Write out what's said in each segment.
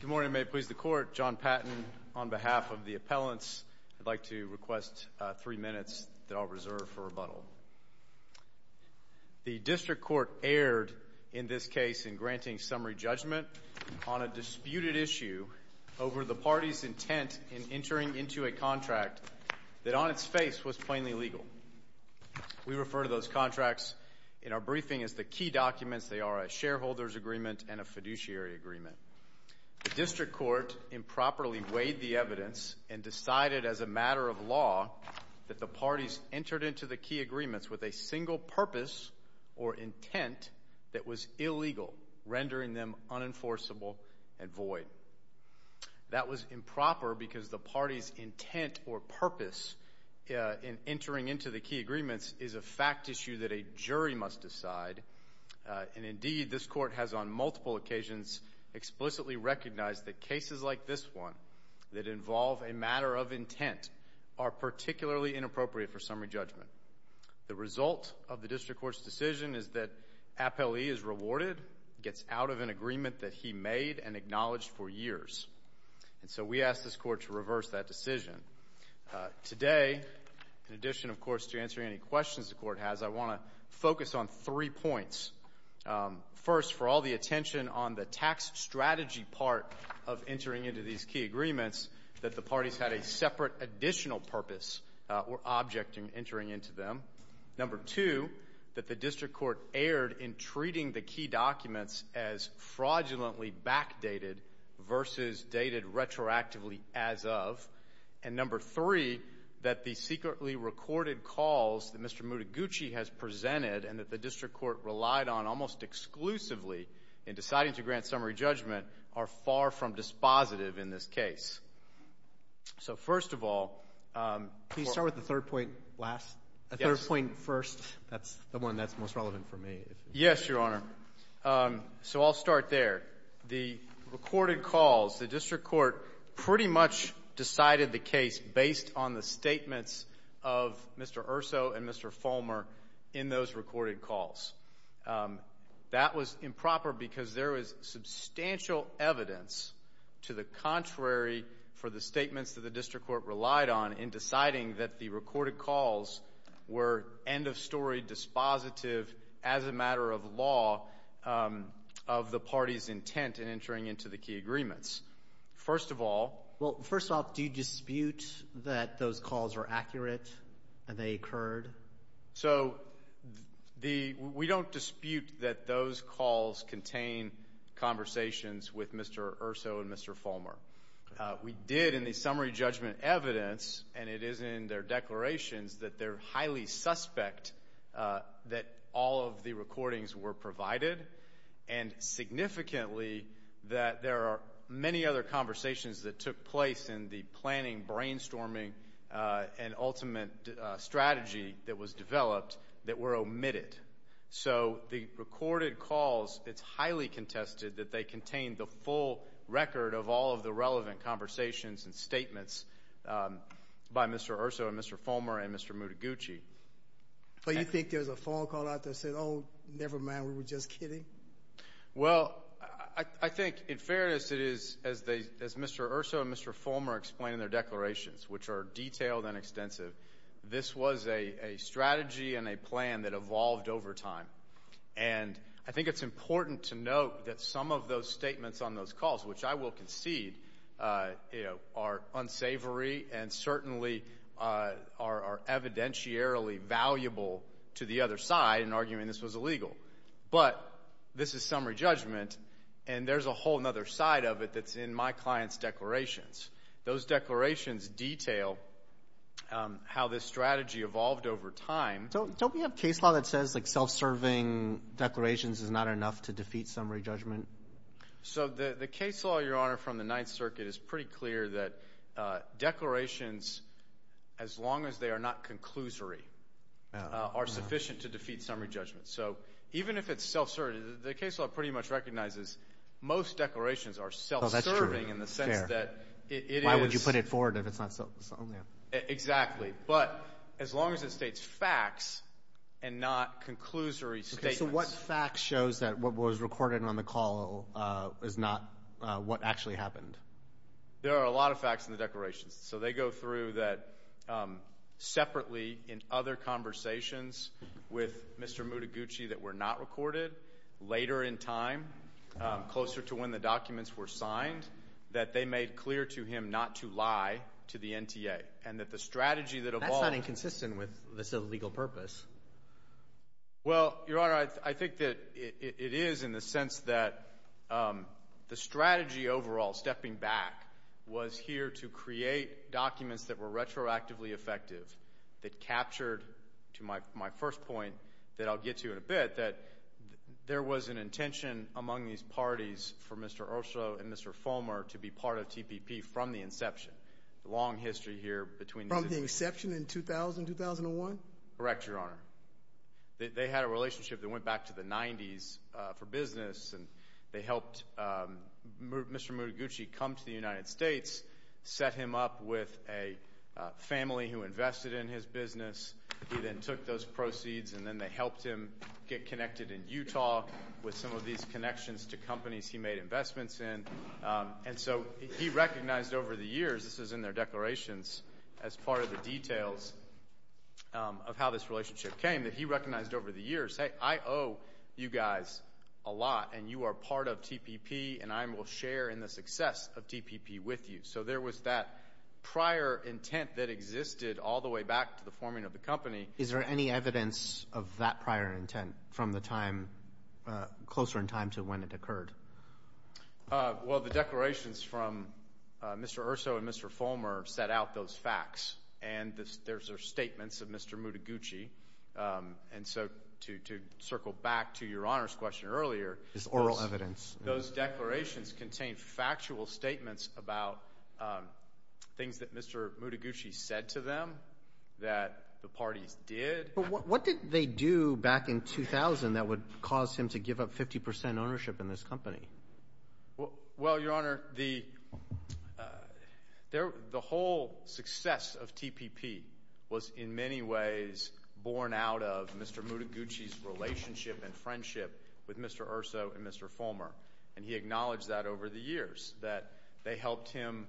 Good morning. May it please the court, John Patton on behalf of the appellants, I'd like to request three minutes that I'll reserve for rebuttal. The district court erred in this case in granting summary judgment on a disputed issue over the party's intent in entering into a contract that on its face was plainly legal. We refer to those contracts in our briefing as the key documents. They are a shareholder's agreement and a fiduciary agreement. The district court improperly weighed the evidence and decided as a matter of law that the parties entered into the key agreements with a single purpose or intent that was illegal, rendering them unenforceable and void. That was improper because the party's intent or purpose in entering into the key agreements is a fact issue that a jury must decide. And indeed, this court has on multiple occasions explicitly recognized that cases like this one that involve a matter of intent are particularly inappropriate for summary judgment. The result of the district court's decision is that appellee is rewarded, gets out of an agreement that he made and acknowledged for years. And so we ask this court to reverse that decision. Today, in addition, of course, to answering any questions the court has, I want to focus on three points. First, for all the attention on the tax strategy part of entering into these key agreements, that the parties had a separate additional purpose or object in entering into them. Number two, that the district court erred in treating the key documents as fraudulently backdated versus dated retroactively as of. And number three, that the secretly recorded calls that Mr. Mutaguchi has presented and that the district court relied on almost exclusively in deciding to grant summary judgment are far from dispositive in this case. So, first of all, for all the attention on the tax strategy part of entering into these key agreements, so I'll start there. The recorded calls, the district court pretty much decided the case based on the statements of Mr. Urso and Mr. Fulmer in those recorded calls. That was improper because there was substantial evidence to the contrary for the statements that the district court relied on in deciding that the recorded calls were end-of-story dispositive as a matter of law of the party's intent in entering into the key agreements. First of all... Well, first of all, do you dispute that those calls are accurate and they occurred? We don't dispute that those calls contain conversations with Mr. Urso and Mr. Fulmer. We did in the summary judgment evidence, and it is in their declarations, that they're highly suspect that all of the recordings were provided, and significantly that there are many other conversations that took place in the planning, brainstorming, and ultimate strategy that was developed that were omitted. So, the recorded calls, it's highly contested that they contain the full record of all of the relevant conversations and statements by Mr. Urso and Mr. Fulmer and Mr. Mutaguchi. But you think there's a phone call out there that said, oh, never mind, we were just kidding? Well, I think in fairness it is, as Mr. Urso and Mr. Fulmer explain in their declarations, which are detailed and extensive, this was a strategy and a plan that evolved over time. And I think it's important to note that some of those statements on those calls, which I will concede are unsavory and certainly are evidentiarily valuable to the other side in arguing this was illegal. But this is summary judgment, and there's a whole other side of it that's in my client's declarations. Those declarations detail how this strategy evolved over time. Don't we have case law that says self-serving declarations is not enough to defeat summary judgment? So the case law, Your Honor, from the Ninth Circuit is pretty clear that declarations, as long as they are not conclusory, are sufficient to defeat summary judgment. So even if it's self-serving, the case law pretty much recognizes most declarations are self-serving in the sense that it is... Why would you put it forward if it's not self-serving? Exactly. But as long as it states facts and not conclusory statements. So what facts shows that what was recorded on the call is not what actually happened? There are a lot of facts in the declarations. So they go through that separately in other conversations with Mr. Mutaguchi that were not recorded, later in time, closer to when the documents were signed, that they made clear to him not to lie to the NTA. And that the strategy that evolved... That's not inconsistent with this illegal purpose. Well, Your Honor, I think that it is in the sense that the strategy overall, stepping back, was here to create documents that were retroactively effective, that captured, to my first point that I'll get to in a bit, that there was an intention among these parties for Mr. Urso and Mr. Fulmer to be part of TPP from the inception. The long history here between... From the inception in 2000, 2001? Correct, Your Honor. They had a relationship that went back to the 90s for business, and they helped Mr. Mutaguchi come to the United States, set him up with a family who invested in his business. He then took those proceeds, and then they helped him get connected in Utah with some of these connections to companies he made investments in. And so he recognized over the years, this is in their declarations, as part of the details of how this relationship came, that he recognized over the years, hey, I owe you guys a lot, and you are part of TPP, and I will share in the success of TPP with you. So there was that prior intent that existed all the way back to the forming of the company. Is there any evidence of that prior intent from the time, closer in time to when it occurred? Well, the declarations from Mr. Urso and Mr. Fulmer set out those facts, and those are statements of Mr. Mutaguchi. And so to circle back to Your Honor's question earlier... It's oral evidence. Those declarations contain factual statements about things that Mr. Mutaguchi said to them that the parties did. What did they do back in 2000 that would cause him to give up 50% ownership in this company? Well, Your Honor, the whole success of TPP was in many ways born out of Mr. Mutaguchi's relationship and friendship with Mr. Urso and Mr. Fulmer. And he acknowledged that over the years, that they helped him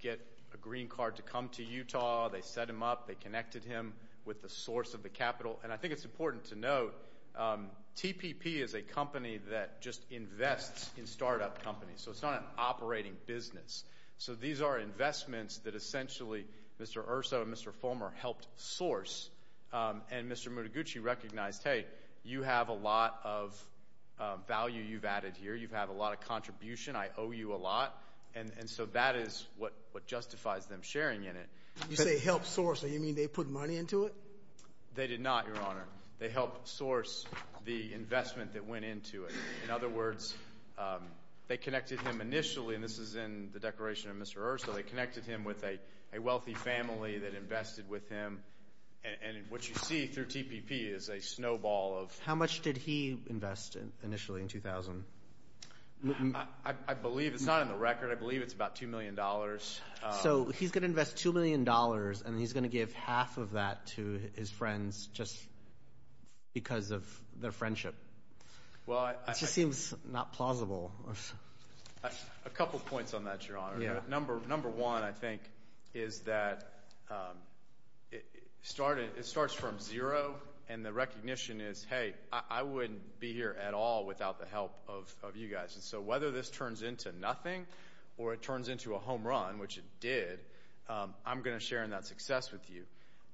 get a green card to come to Utah, they set him up, they connected him with the source of the capital. And I think it's important to note, TPP is a company that just invests in startup companies. So it's not an operating business. So these are investments that essentially Mr. Urso and Mr. Fulmer helped source. And Mr. Mutaguchi recognized, hey, you have a lot of value you've added here. You have a lot of contribution. I owe you a lot. And so that is what justifies them sharing in it. You say help source. Do you mean they put money into it? They did not, Your Honor. They helped source the investment that went into it. In other words, they connected him initially, and this is in the declaration of Mr. Urso, they connected him with a wealthy family that invested with him. And what you see through TPP is a snowball of- How much did he invest initially in 2000? I believe it's not in the record. I believe it's about $2 million. So he's going to invest $2 million, and he's going to give half of that to his friends just because of their friendship. It just seems not plausible. A couple points on that, Your Honor. Number one, I think, is that it starts from zero, and the recognition is, hey, I wouldn't be here at all without the help of you guys. So whether this turns into nothing or it turns into a home run, which it did, I'm going to share in that success with you.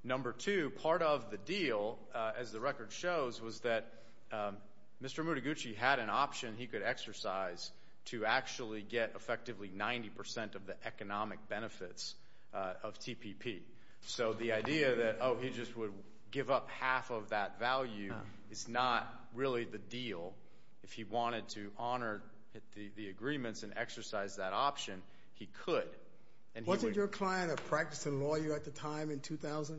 Number two, part of the deal, as the record shows, was that Mr. Mutaguchi had an option he could exercise to actually get effectively 90 percent of the economic benefits of TPP. So the idea that, oh, he just would give up half of that value is not really the deal if he wanted to honor the agreements and exercise that option. He could. Wasn't your client a practicing lawyer at the time in 2000?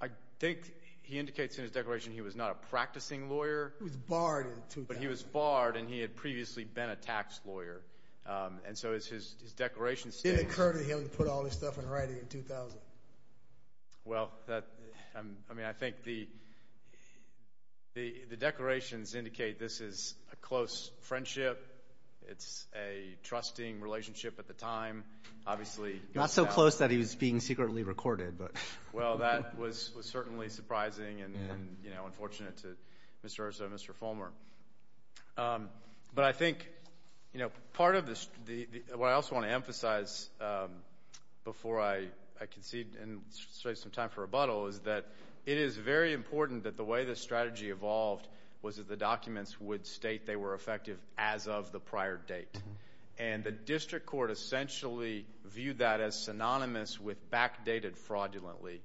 I think he indicates in his declaration he was not a practicing lawyer. He was barred in 2000. But he was barred, and he had previously been a tax lawyer. And so his declaration states- It didn't occur to him to put all this stuff in writing in 2000. Well, I mean, I think the declarations indicate this is a close friendship. It's a trusting relationship at the time. Obviously- Not so close that he was being secretly recorded, but- Well, that was certainly surprising and unfortunate to Mr. Ursa and Mr. Fulmer. But I think, you know, part of this- What I also want to emphasize before I concede and save some time for rebuttal is that it is very important that the way this strategy evolved was that the documents would state they were effective as of the prior date. And the district court essentially viewed that as synonymous with backdated fraudulently.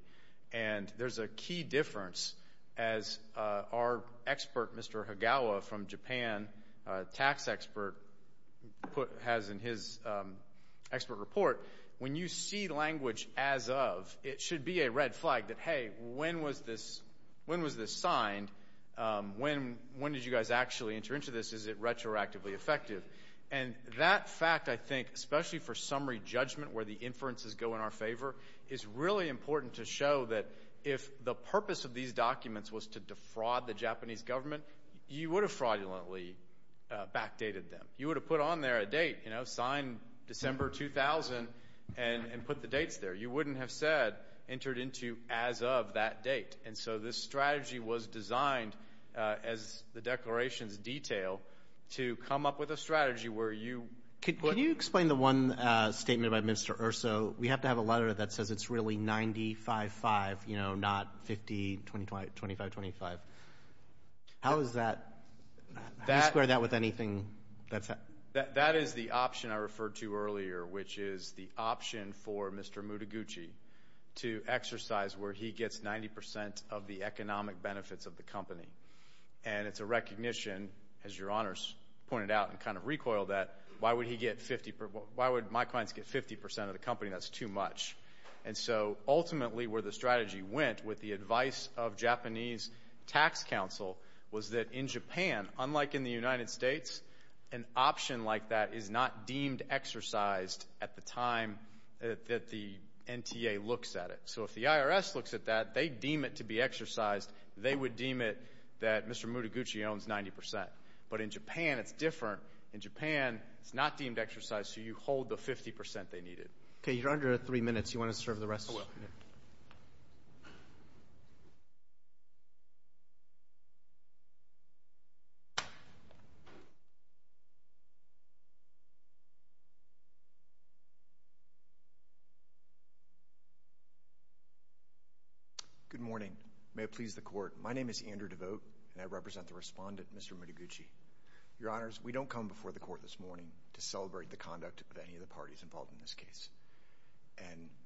And there's a key difference as our expert, Mr. Higawa from Japan, tax expert, has in his expert report. When you see language as of, it should be a red flag that, hey, when was this signed? When did you guys actually enter into this? Is it retroactively effective? And that fact, I think, especially for summary judgment where the inferences go in our favor, is really important to show that if the purpose of these documents was to defraud the Japanese government, you would have fraudulently backdated them. You would have put on there a date, you know, signed December 2000 and put the dates there. You wouldn't have said entered into as of that date. And so this strategy was designed as the declaration's detail to come up with a strategy where you- Can you explain the one statement by Mr. Urso? We have to have a letter that says it's really 90-5-5, you know, not 50-25-25. How is that? How do you square that with anything? That is the option I referred to earlier, which is the option for Mr. Mutaguchi to exercise where he gets 90 percent of the economic benefits of the company. And it's a recognition, as your recoiled that, why would he get 50- why would my clients get 50 percent of the company? That's too much. And so ultimately where the strategy went with the advice of Japanese tax counsel was that in Japan, unlike in the United States, an option like that is not deemed exercised at the time that the NTA looks at it. So if the IRS looks at that, they deem it to be exercised. They would deem it that Mr. Mutaguchi owns 90 percent. But in Japan, it's different. In Japan, it's not deemed exercised, so you hold the 50 percent they needed. Okay, you're under three minutes. You want to serve the rest? I will. Good morning. May it please the Court. My name is Andrew Devote, and I represent the respondent, Mr. Mutaguchi. Your Honors, we don't come before the Court this morning to celebrate the conduct of any of the parties involved in this case.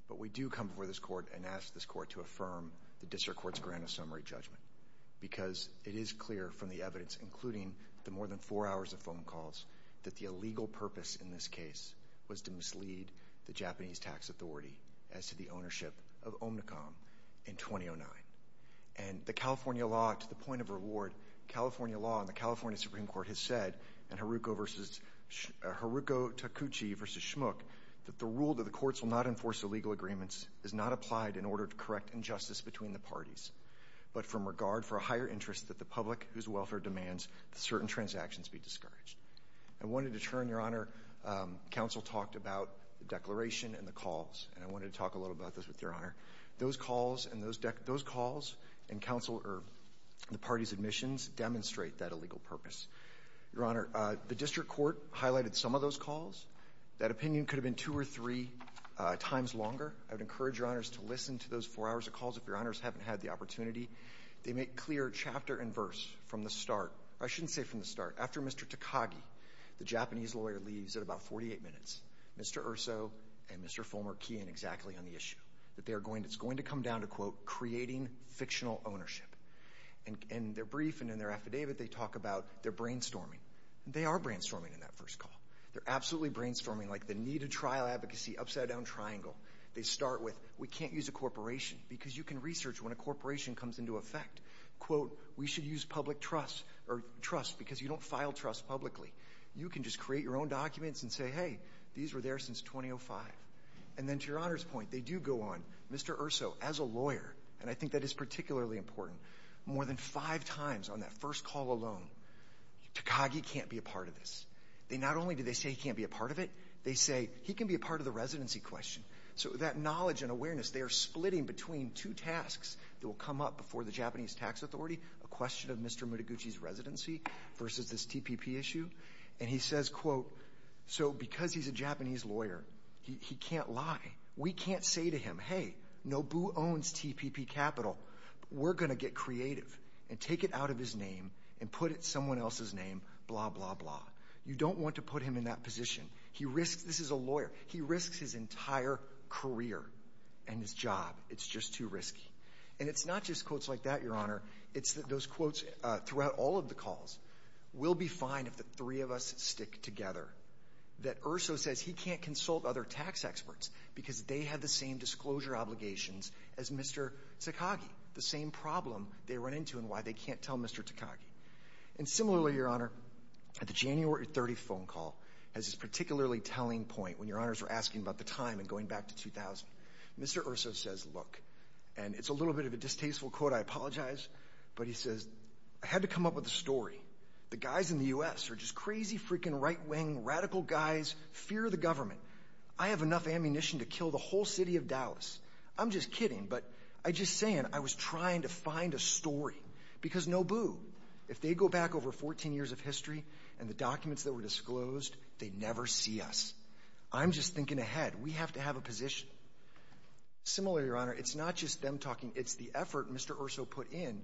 But we do come before this Court and ask this Court to affirm the District Court's grant of summary judgment because it is clear from the evidence, including the more than four hours of phone calls, that the illegal purpose in this case was to mislead the Japanese tax authority as to the ownership of Omnicom in 2009. And the California law, to the point of reward, California law and the California Supreme Court has said in Haruko Takuchi v. Schmuck that the rule that the courts will not enforce illegal agreements is not applied in order to correct injustice between the parties, but from regard for a higher interest that the public whose welfare demands that certain transactions be discouraged. I wanted to turn, Your Honor, counsel talked about the declaration and the calls, and I wanted to talk a little bit about this with Your Honor. Those calls and those calls and counsel or the parties' admissions demonstrate that illegal purpose. Your Honor, the District Court highlighted some of those calls. That opinion could have been two or three times longer. I would encourage Your Honors to listen to those four hours of calls if Your Honors haven't had the opportunity. They make clear chapter and verse from the start. I shouldn't say from the start. After Mr. Takagi, the Japanese lawyer, leaves at about 48 minutes, Mr. Urso and Mr. Fulmer key in exactly on the issue, that it's going to come down to, quote, creating fictional ownership. And in their brief and in their affidavit, they talk about they're brainstorming. They are brainstorming in that first call. They're absolutely brainstorming like the need to trial advocacy upside down triangle. They start with, we can't use a because you can research when a corporation comes into effect. Quote, we should use public trust or trust because you don't file trust publicly. You can just create your own documents and say, hey, these were there since 2005. And then to Your Honor's point, they do go on, Mr. Urso, as a lawyer, and I think that is particularly important, more than five times on that first call alone, Takagi can't be a part of this. They not only do they say he can't be a part of it, they say he can be a part of the residency question. So that knowledge and awareness, they are splitting between two tasks that will come up before the Japanese Tax Authority, a question of Mr. Mutaguchi's residency versus this TPP issue. And he says, quote, so because he's a Japanese lawyer, he can't lie. We can't say to him, hey, Nobu owns TPP capital. We're going to get creative and take it out of his name and put it someone else's name, blah, blah, blah. You don't want to put him in that position. He risks, this is a lawyer, he risks his entire career and his job. It's just too risky. And it's not just quotes like that, Your Honor. It's those quotes throughout all of the calls. We'll be fine if the three of us stick together. That Urso says he can't consult other tax experts because they have the same disclosure obligations as Mr. Takagi. The same problem they run into and why they can't tell Mr. Takagi. And similarly, Your Honor, at the January 30th phone call, as this particularly telling point when Your Honors were asking about the time and going back to 2000, Mr. Urso says, look, and it's a little bit of a distasteful quote, I apologize, but he says, I had to come up with a story. The guys in the U.S. are just crazy freaking right wing radical guys, fear the government. I have enough ammunition to kill the whole city of Dallas. I'm just kidding. But I just saying, I was trying to find a story because Nobu, if they go back over 14 years of history and the documents that were disclosed, they never see us. I'm just thinking ahead. We have to have a position. Similarly, Your Honor, it's not just them talking. It's the effort Mr. Urso put in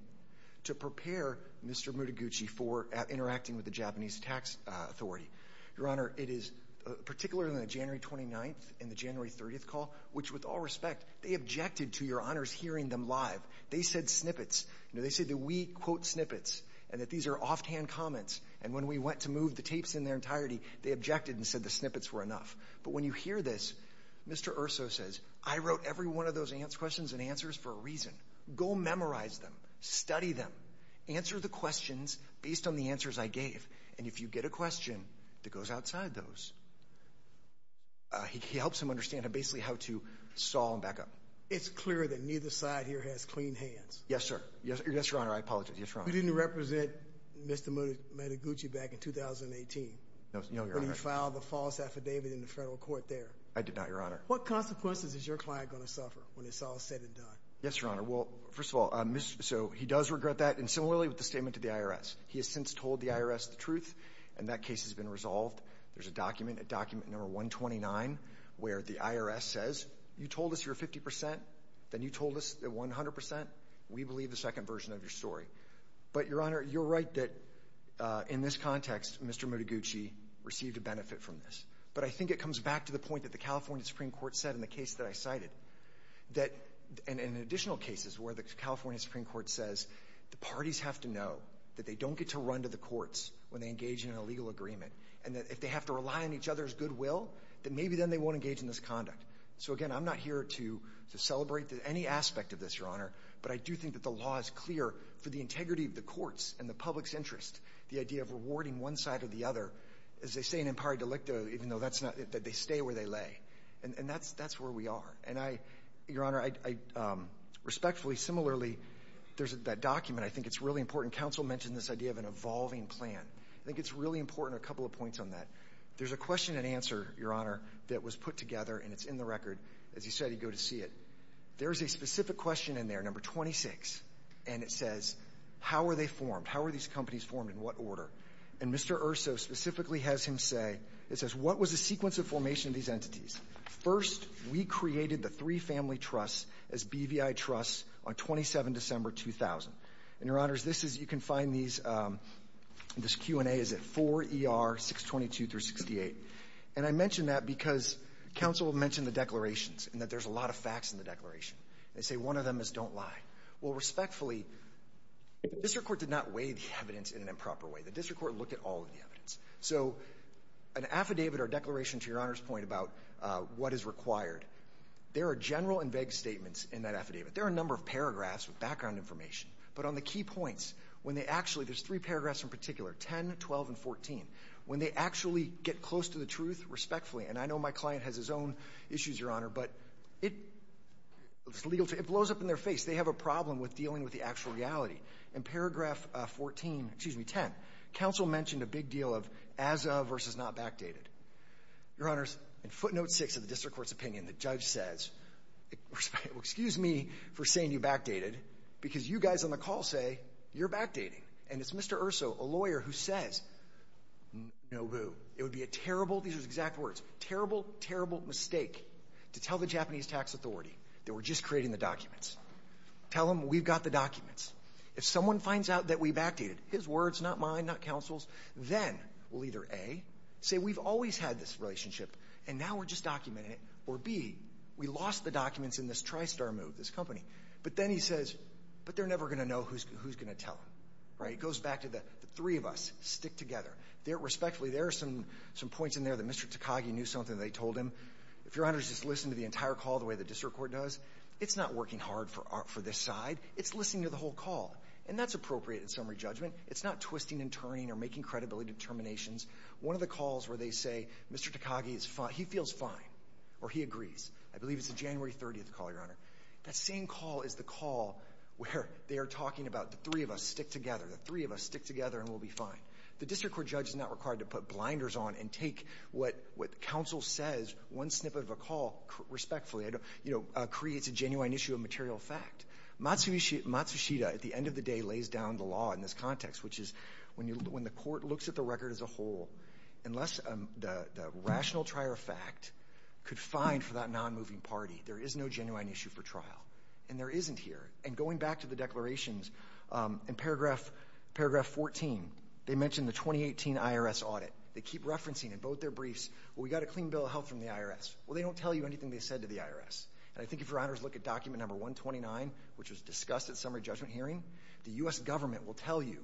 to prepare Mr. Mutaguchi for interacting with the Japanese tax authority. Your Honor, it is particularly on the January 29th and the January 30th call, which with all respect, they objected to Your Honors hearing them live. They said snippets. You know, they said that we quote in their entirety. They objected and said the snippets were enough. But when you hear this, Mr. Urso says, I wrote every one of those questions and answers for a reason. Go memorize them, study them, answer the questions based on the answers I gave. And if you get a question that goes outside those, he helps him understand basically how to stall and back up. It's clear that neither side here has clean hands. Yes, sir. Yes, Your Honor. I apologize. You didn't represent Mr. Mutaguchi back in 2018 when he filed the false affidavit in the federal court there. I did not, Your Honor. What consequences is your client going to suffer when it's all said and done? Yes, Your Honor. Well, first of all, so he does regret that. And similarly, with the statement to the IRS, he has since told the IRS the truth. And that case has been resolved. There's a document, a document number 129, where the IRS says, you told us you're 50 percent. Then you told us that 100 percent. We believe the second version of your story. But, Your Honor, you're right that in this context, Mr. Mutaguchi received a benefit from this. But I think it comes back to the point that the California Supreme Court said in the case that I cited, that in additional cases where the California Supreme Court says the parties have to know that they don't get to run to the courts when they engage in an illegal agreement, and that if they have to rely on each other's goodwill, that maybe then they won't engage in this conduct. So, again, I'm not here to celebrate any aspect of this, but I do think that the law is clear for the integrity of the courts and the public's interest, the idea of rewarding one side or the other, as they say in impari delicto, even though that's not, that they stay where they lay. And that's where we are. And I, Your Honor, respectfully, similarly, there's that document. I think it's really important. Counsel mentioned this idea of an evolving plan. I think it's really important, a couple of points on that. There's a question and answer, Your Honor, that was put together, and it's in the record. As you said, you go to see it. There's a specific question in there, number 26, and it says, how are they formed? How are these companies formed? In what order? And Mr. Urso specifically has him say, it says, what was the sequence of formation of these entities? First, we created the three family trusts as BVI trusts on 27 December 2000. And, Your Honors, this is, you can find these, this Q&A is at 4ER 622 through 68. And I mention that because counsel mentioned the declarations and that there's a lot of facts in the declaration. They say one of them is don't lie. Well, respectfully, the district court did not weigh the evidence in an improper way. The district court looked at all of the evidence. So an affidavit or declaration, to Your Honor's point about what is required, there are general and vague statements in that affidavit. There are a number of paragraphs with background information. But on the key points, when they actually, there's three paragraphs in particular, 10, 12, and 14. When they actually get close to the truth, respectfully, and I know my client has his own issues, Your Honor, but it's legal, it blows up in their face. They have a problem with dealing with the actual reality. In paragraph 14, excuse me, 10, counsel mentioned a big deal of as of versus not backdated. Your Honors, in footnote six of the district court's opinion, the judge says, excuse me for saying you backdated because you guys on the call say you're backdating. And it's Mr. Urso, a lawyer, who says, no boo. It would be a terrible, these are his exact words, terrible, terrible mistake to tell the Japanese tax authority that we're just creating the documents. Tell them we've got the documents. If someone finds out that we backdated, his words, not mine, not counsel's, then we'll either, A, say we've always had this relationship and now we're just documenting it, or B, we lost the documents in this tri-star move, this company. But then he says, but they're never going to know who's going to tell them. It goes back to the three of us stick together. Respectfully, there are some points in there that Mr. Takagi knew something that they told him. If Your Honors just listen to the entire call the way the district court does, it's not working hard for this side, it's listening to the whole call. And that's appropriate in summary judgment. It's not twisting and turning or making credibility determinations. One of the calls where they say, Mr. Takagi, he feels fine, or he agrees, I believe it's the call where they are talking about the three of us stick together. The three of us stick together and we'll be fine. The district court judge is not required to put blinders on and take what counsel says, one snippet of a call, respectfully, you know, creates a genuine issue of material fact. Matsushita, at the end of the day, lays down the law in this context, which is when the court looks at the record as a whole, unless the rational trier of fact could find for that non-moving party, there is no genuine issue for trial. And there isn't here. And going back to the declarations in paragraph 14, they mentioned the 2018 IRS audit. They keep referencing in both their briefs, well, we got a clean bill of health from the IRS. Well, they don't tell you anything they said to the IRS. And I think if Your Honors look at document number 129, which was discussed at summary judgment hearing, the U.S. government will tell you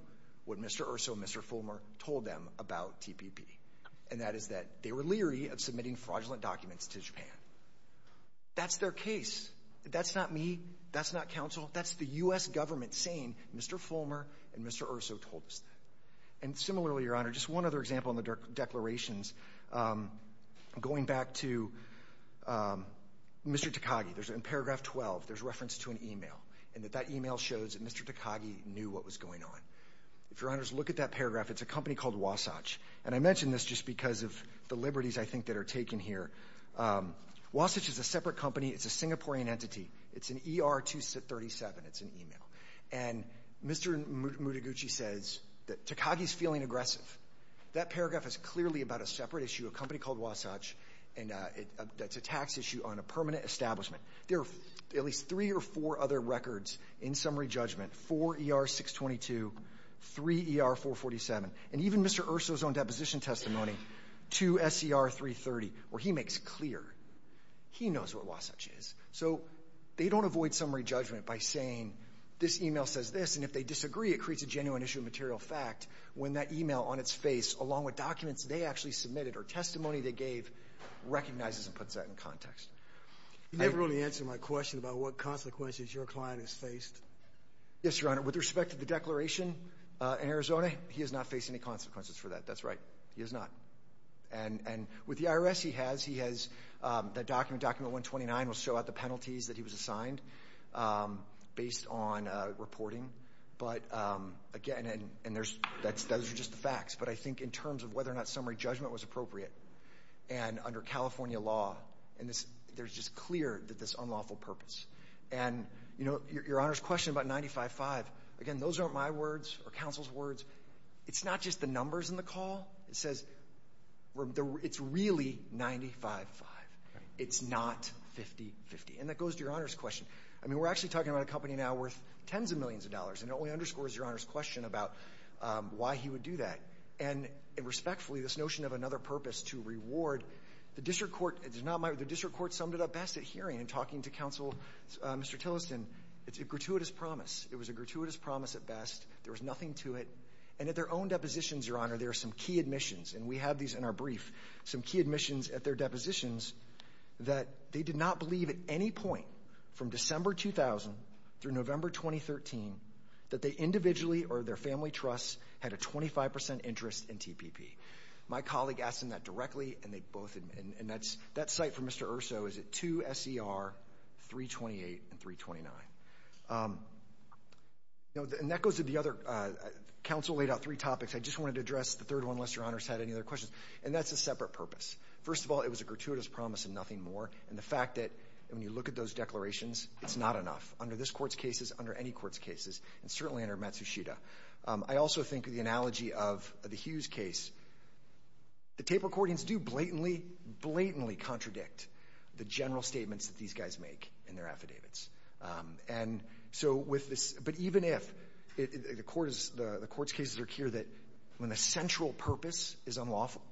what Mr. Urso, Mr. Fulmer told them about TPP. And that is that they were leery of submitting fraudulent documents to Japan. That's their case. That's not me. That's not counsel. That's the U.S. government saying Mr. Fulmer and Mr. Urso told us that. And similarly, Your Honor, just one other example in the declarations, going back to Mr. Takagi, there's in paragraph 12, there's reference to an email and that that email shows that Mr. Takagi knew what was going on. If Your Honors look at that paragraph, it's a company called Wasatch. And I mentioned this just because of the liberties I think that are taken here. Wasatch is a separate company. It's a Singaporean entity. It's an ER-237. It's an email. And Mr. Mutaguchi says that Takagi's feeling aggressive. That paragraph is clearly about a separate issue, a company called Wasatch, and that's a tax issue on a permanent establishment. There are at least three or four other records in summary judgment, four ER-622, three ER-447, and even Mr. Urso's own deposition testimony, two SER-330, where he makes clear he knows what Wasatch is. So they don't avoid summary judgment by saying this email says this, and if they disagree, it creates a genuine issue of material fact when that email on its face, along with documents they actually submitted or testimony they gave, recognizes and puts that in context. You never really answered my question about what consequences your client has faced. Yes, Your Honor. With respect to the declaration in Arizona, he has not faced any consequences for that. That's right. He has not. And with the IRS, he has. That document, document 129, will show out the penalties that he was assigned based on reporting. But again, and those are just the facts. But I think in terms of whether or not summary judgment was appropriate, and under California law, there's just clear that this is an unlawful purpose. And, you know, Your Honor's question about 95-5, again, those aren't my words or counsel's words. It's not just the numbers in the call. It says it's really 95-5. It's not 50-50. And that goes to Your Honor's question. I mean, we're actually talking about a company now worth tens of millions of dollars, and it only underscores Your Honor's question about why he would do that. And respectfully, this notion of another purpose to reward, the district court, it's not my, the district court summed it up best at hearing and talking to counsel, Mr. Tillerson. It's a gratuitous promise. It was a gratuitous promise at best. There was nothing to it. And at their own depositions, Your Honor, there are some key admissions, and we have these in our brief, some key admissions at their depositions, that they did not believe at any point from December 2000 through November 2013, that they individually or their family trusts had a 25% interest in TPP. My colleague asked them that directly, and they both admitted. And that's, that cite from Mr. Urso is at 2 S.E.R., 328 and 329. You know, and that goes to the other, counsel laid out three topics. I just wanted to address the third one, unless Your Honor's had any other questions. And that's a separate purpose. First of all, it was a gratuitous promise and nothing more. And the fact that when you look at those declarations, it's not enough under this Court's cases, under any Court's cases, and certainly under Matsushita. I also think of the analogy of the Hughes case. The tape recordings do blatantly, blatantly contradict the general statements that these guys make in their affidavits. And so with this, but even if the Court's cases are clear that when the central purpose is unlawful,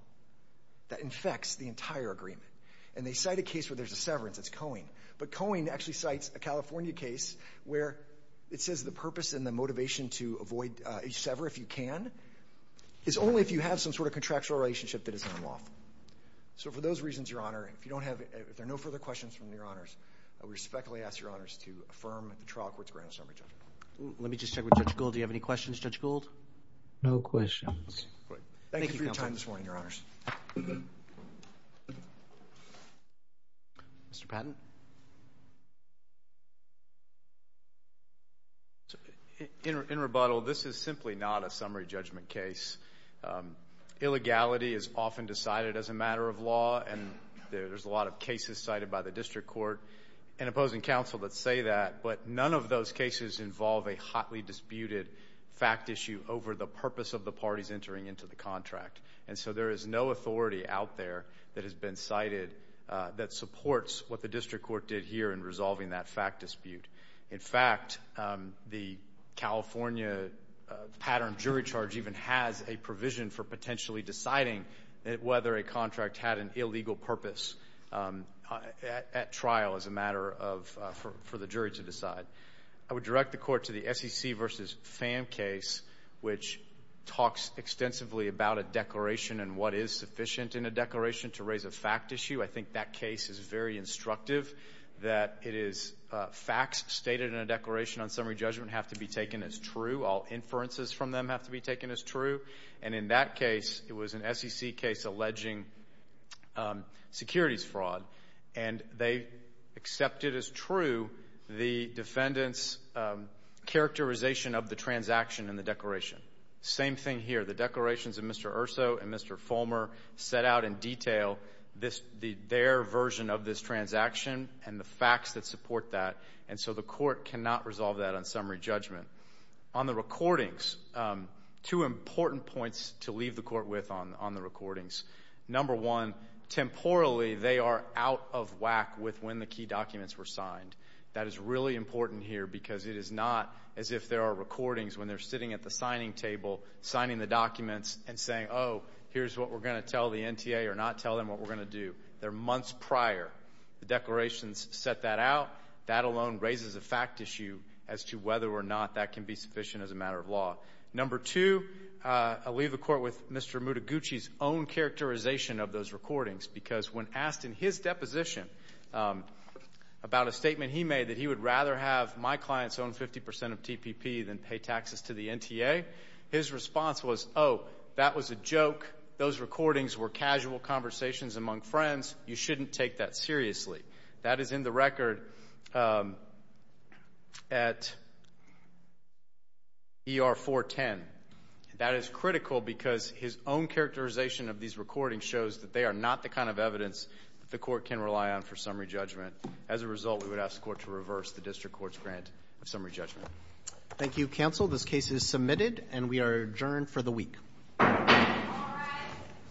that infects the entire agreement. And they cite a case where there's a severance, it's Cohen. But Cohen actually cites a California case where it says the purpose and the motivation to avoid a sever if you can is only if you have some sort of contractual relationship that is unlawful. So for those reasons, Your Honor, if you don't have, if there are no further questions from Your Honors, I respectfully ask Your Honors to affirm the trial court's grant of summary judgment. Let me just check with Judge Gould. Do you have any questions, Judge Gould? No questions. Okay. Good. Thank you for your time this morning, Your Honors. Mr. Patton? In rebuttal, this is simply not a summary judgment case. Illegality is often decided as a matter of law, and there's a lot of cases cited by the district court and opposing counsel that say that. But none of those cases involve a hotly disputed fact issue over the purpose of the parties entering into the contract. And so there is no authority out there that has been cited that supports what the district court did here in resolving that fact dispute. In fact, the California pattern jury charge even has a provision for potentially deciding whether a contract had an illegal purpose at trial as a matter of, for the jury to decide. I would direct the court to the SEC v. Pham case, which talks extensively about a declaration and what is sufficient in a declaration to raise a fact issue. I think that case is very instructive, that it is facts stated in a declaration on summary judgment have to be taken as true, all inferences from them have to be taken as true. And in that case, it was an SEC case alleging securities fraud. And they accepted as true the defendant's characterization of the transaction in the declaration. Same thing here. The declarations of Mr. Urso and Mr. Fulmer set out in detail this their version of this transaction and the facts that support that. And so the court cannot resolve that on summary judgment. On the recordings, two important points to leave the court with on the recordings. Number one, temporally, they are out of whack with when the key documents were signed. That is really important here because it is not as if there are recordings when they're sitting at the signing table, signing the documents and saying, oh, here's what we're going to tell the NTA or not tell them what we're going to do. They're months prior. The declarations set that out. That alone raises a fact issue as to whether or not that can be sufficient as a Mr. Mutaguchi's own characterization of those recordings. Because when asked in his deposition about a statement he made that he would rather have my clients own 50 percent of TPP than pay taxes to the NTA, his response was, oh, that was a joke. Those recordings were casual conversations among friends. You shouldn't take that seriously. That is in the record at ER 410. That is critical because his own characterization of these recordings shows that they are not the kind of evidence that the court can rely on for summary judgment. As a result, we would ask the court to reverse the district court's grant of summary judgment. Roberts. Thank you, counsel. This case is submitted and we are adjourned for the week.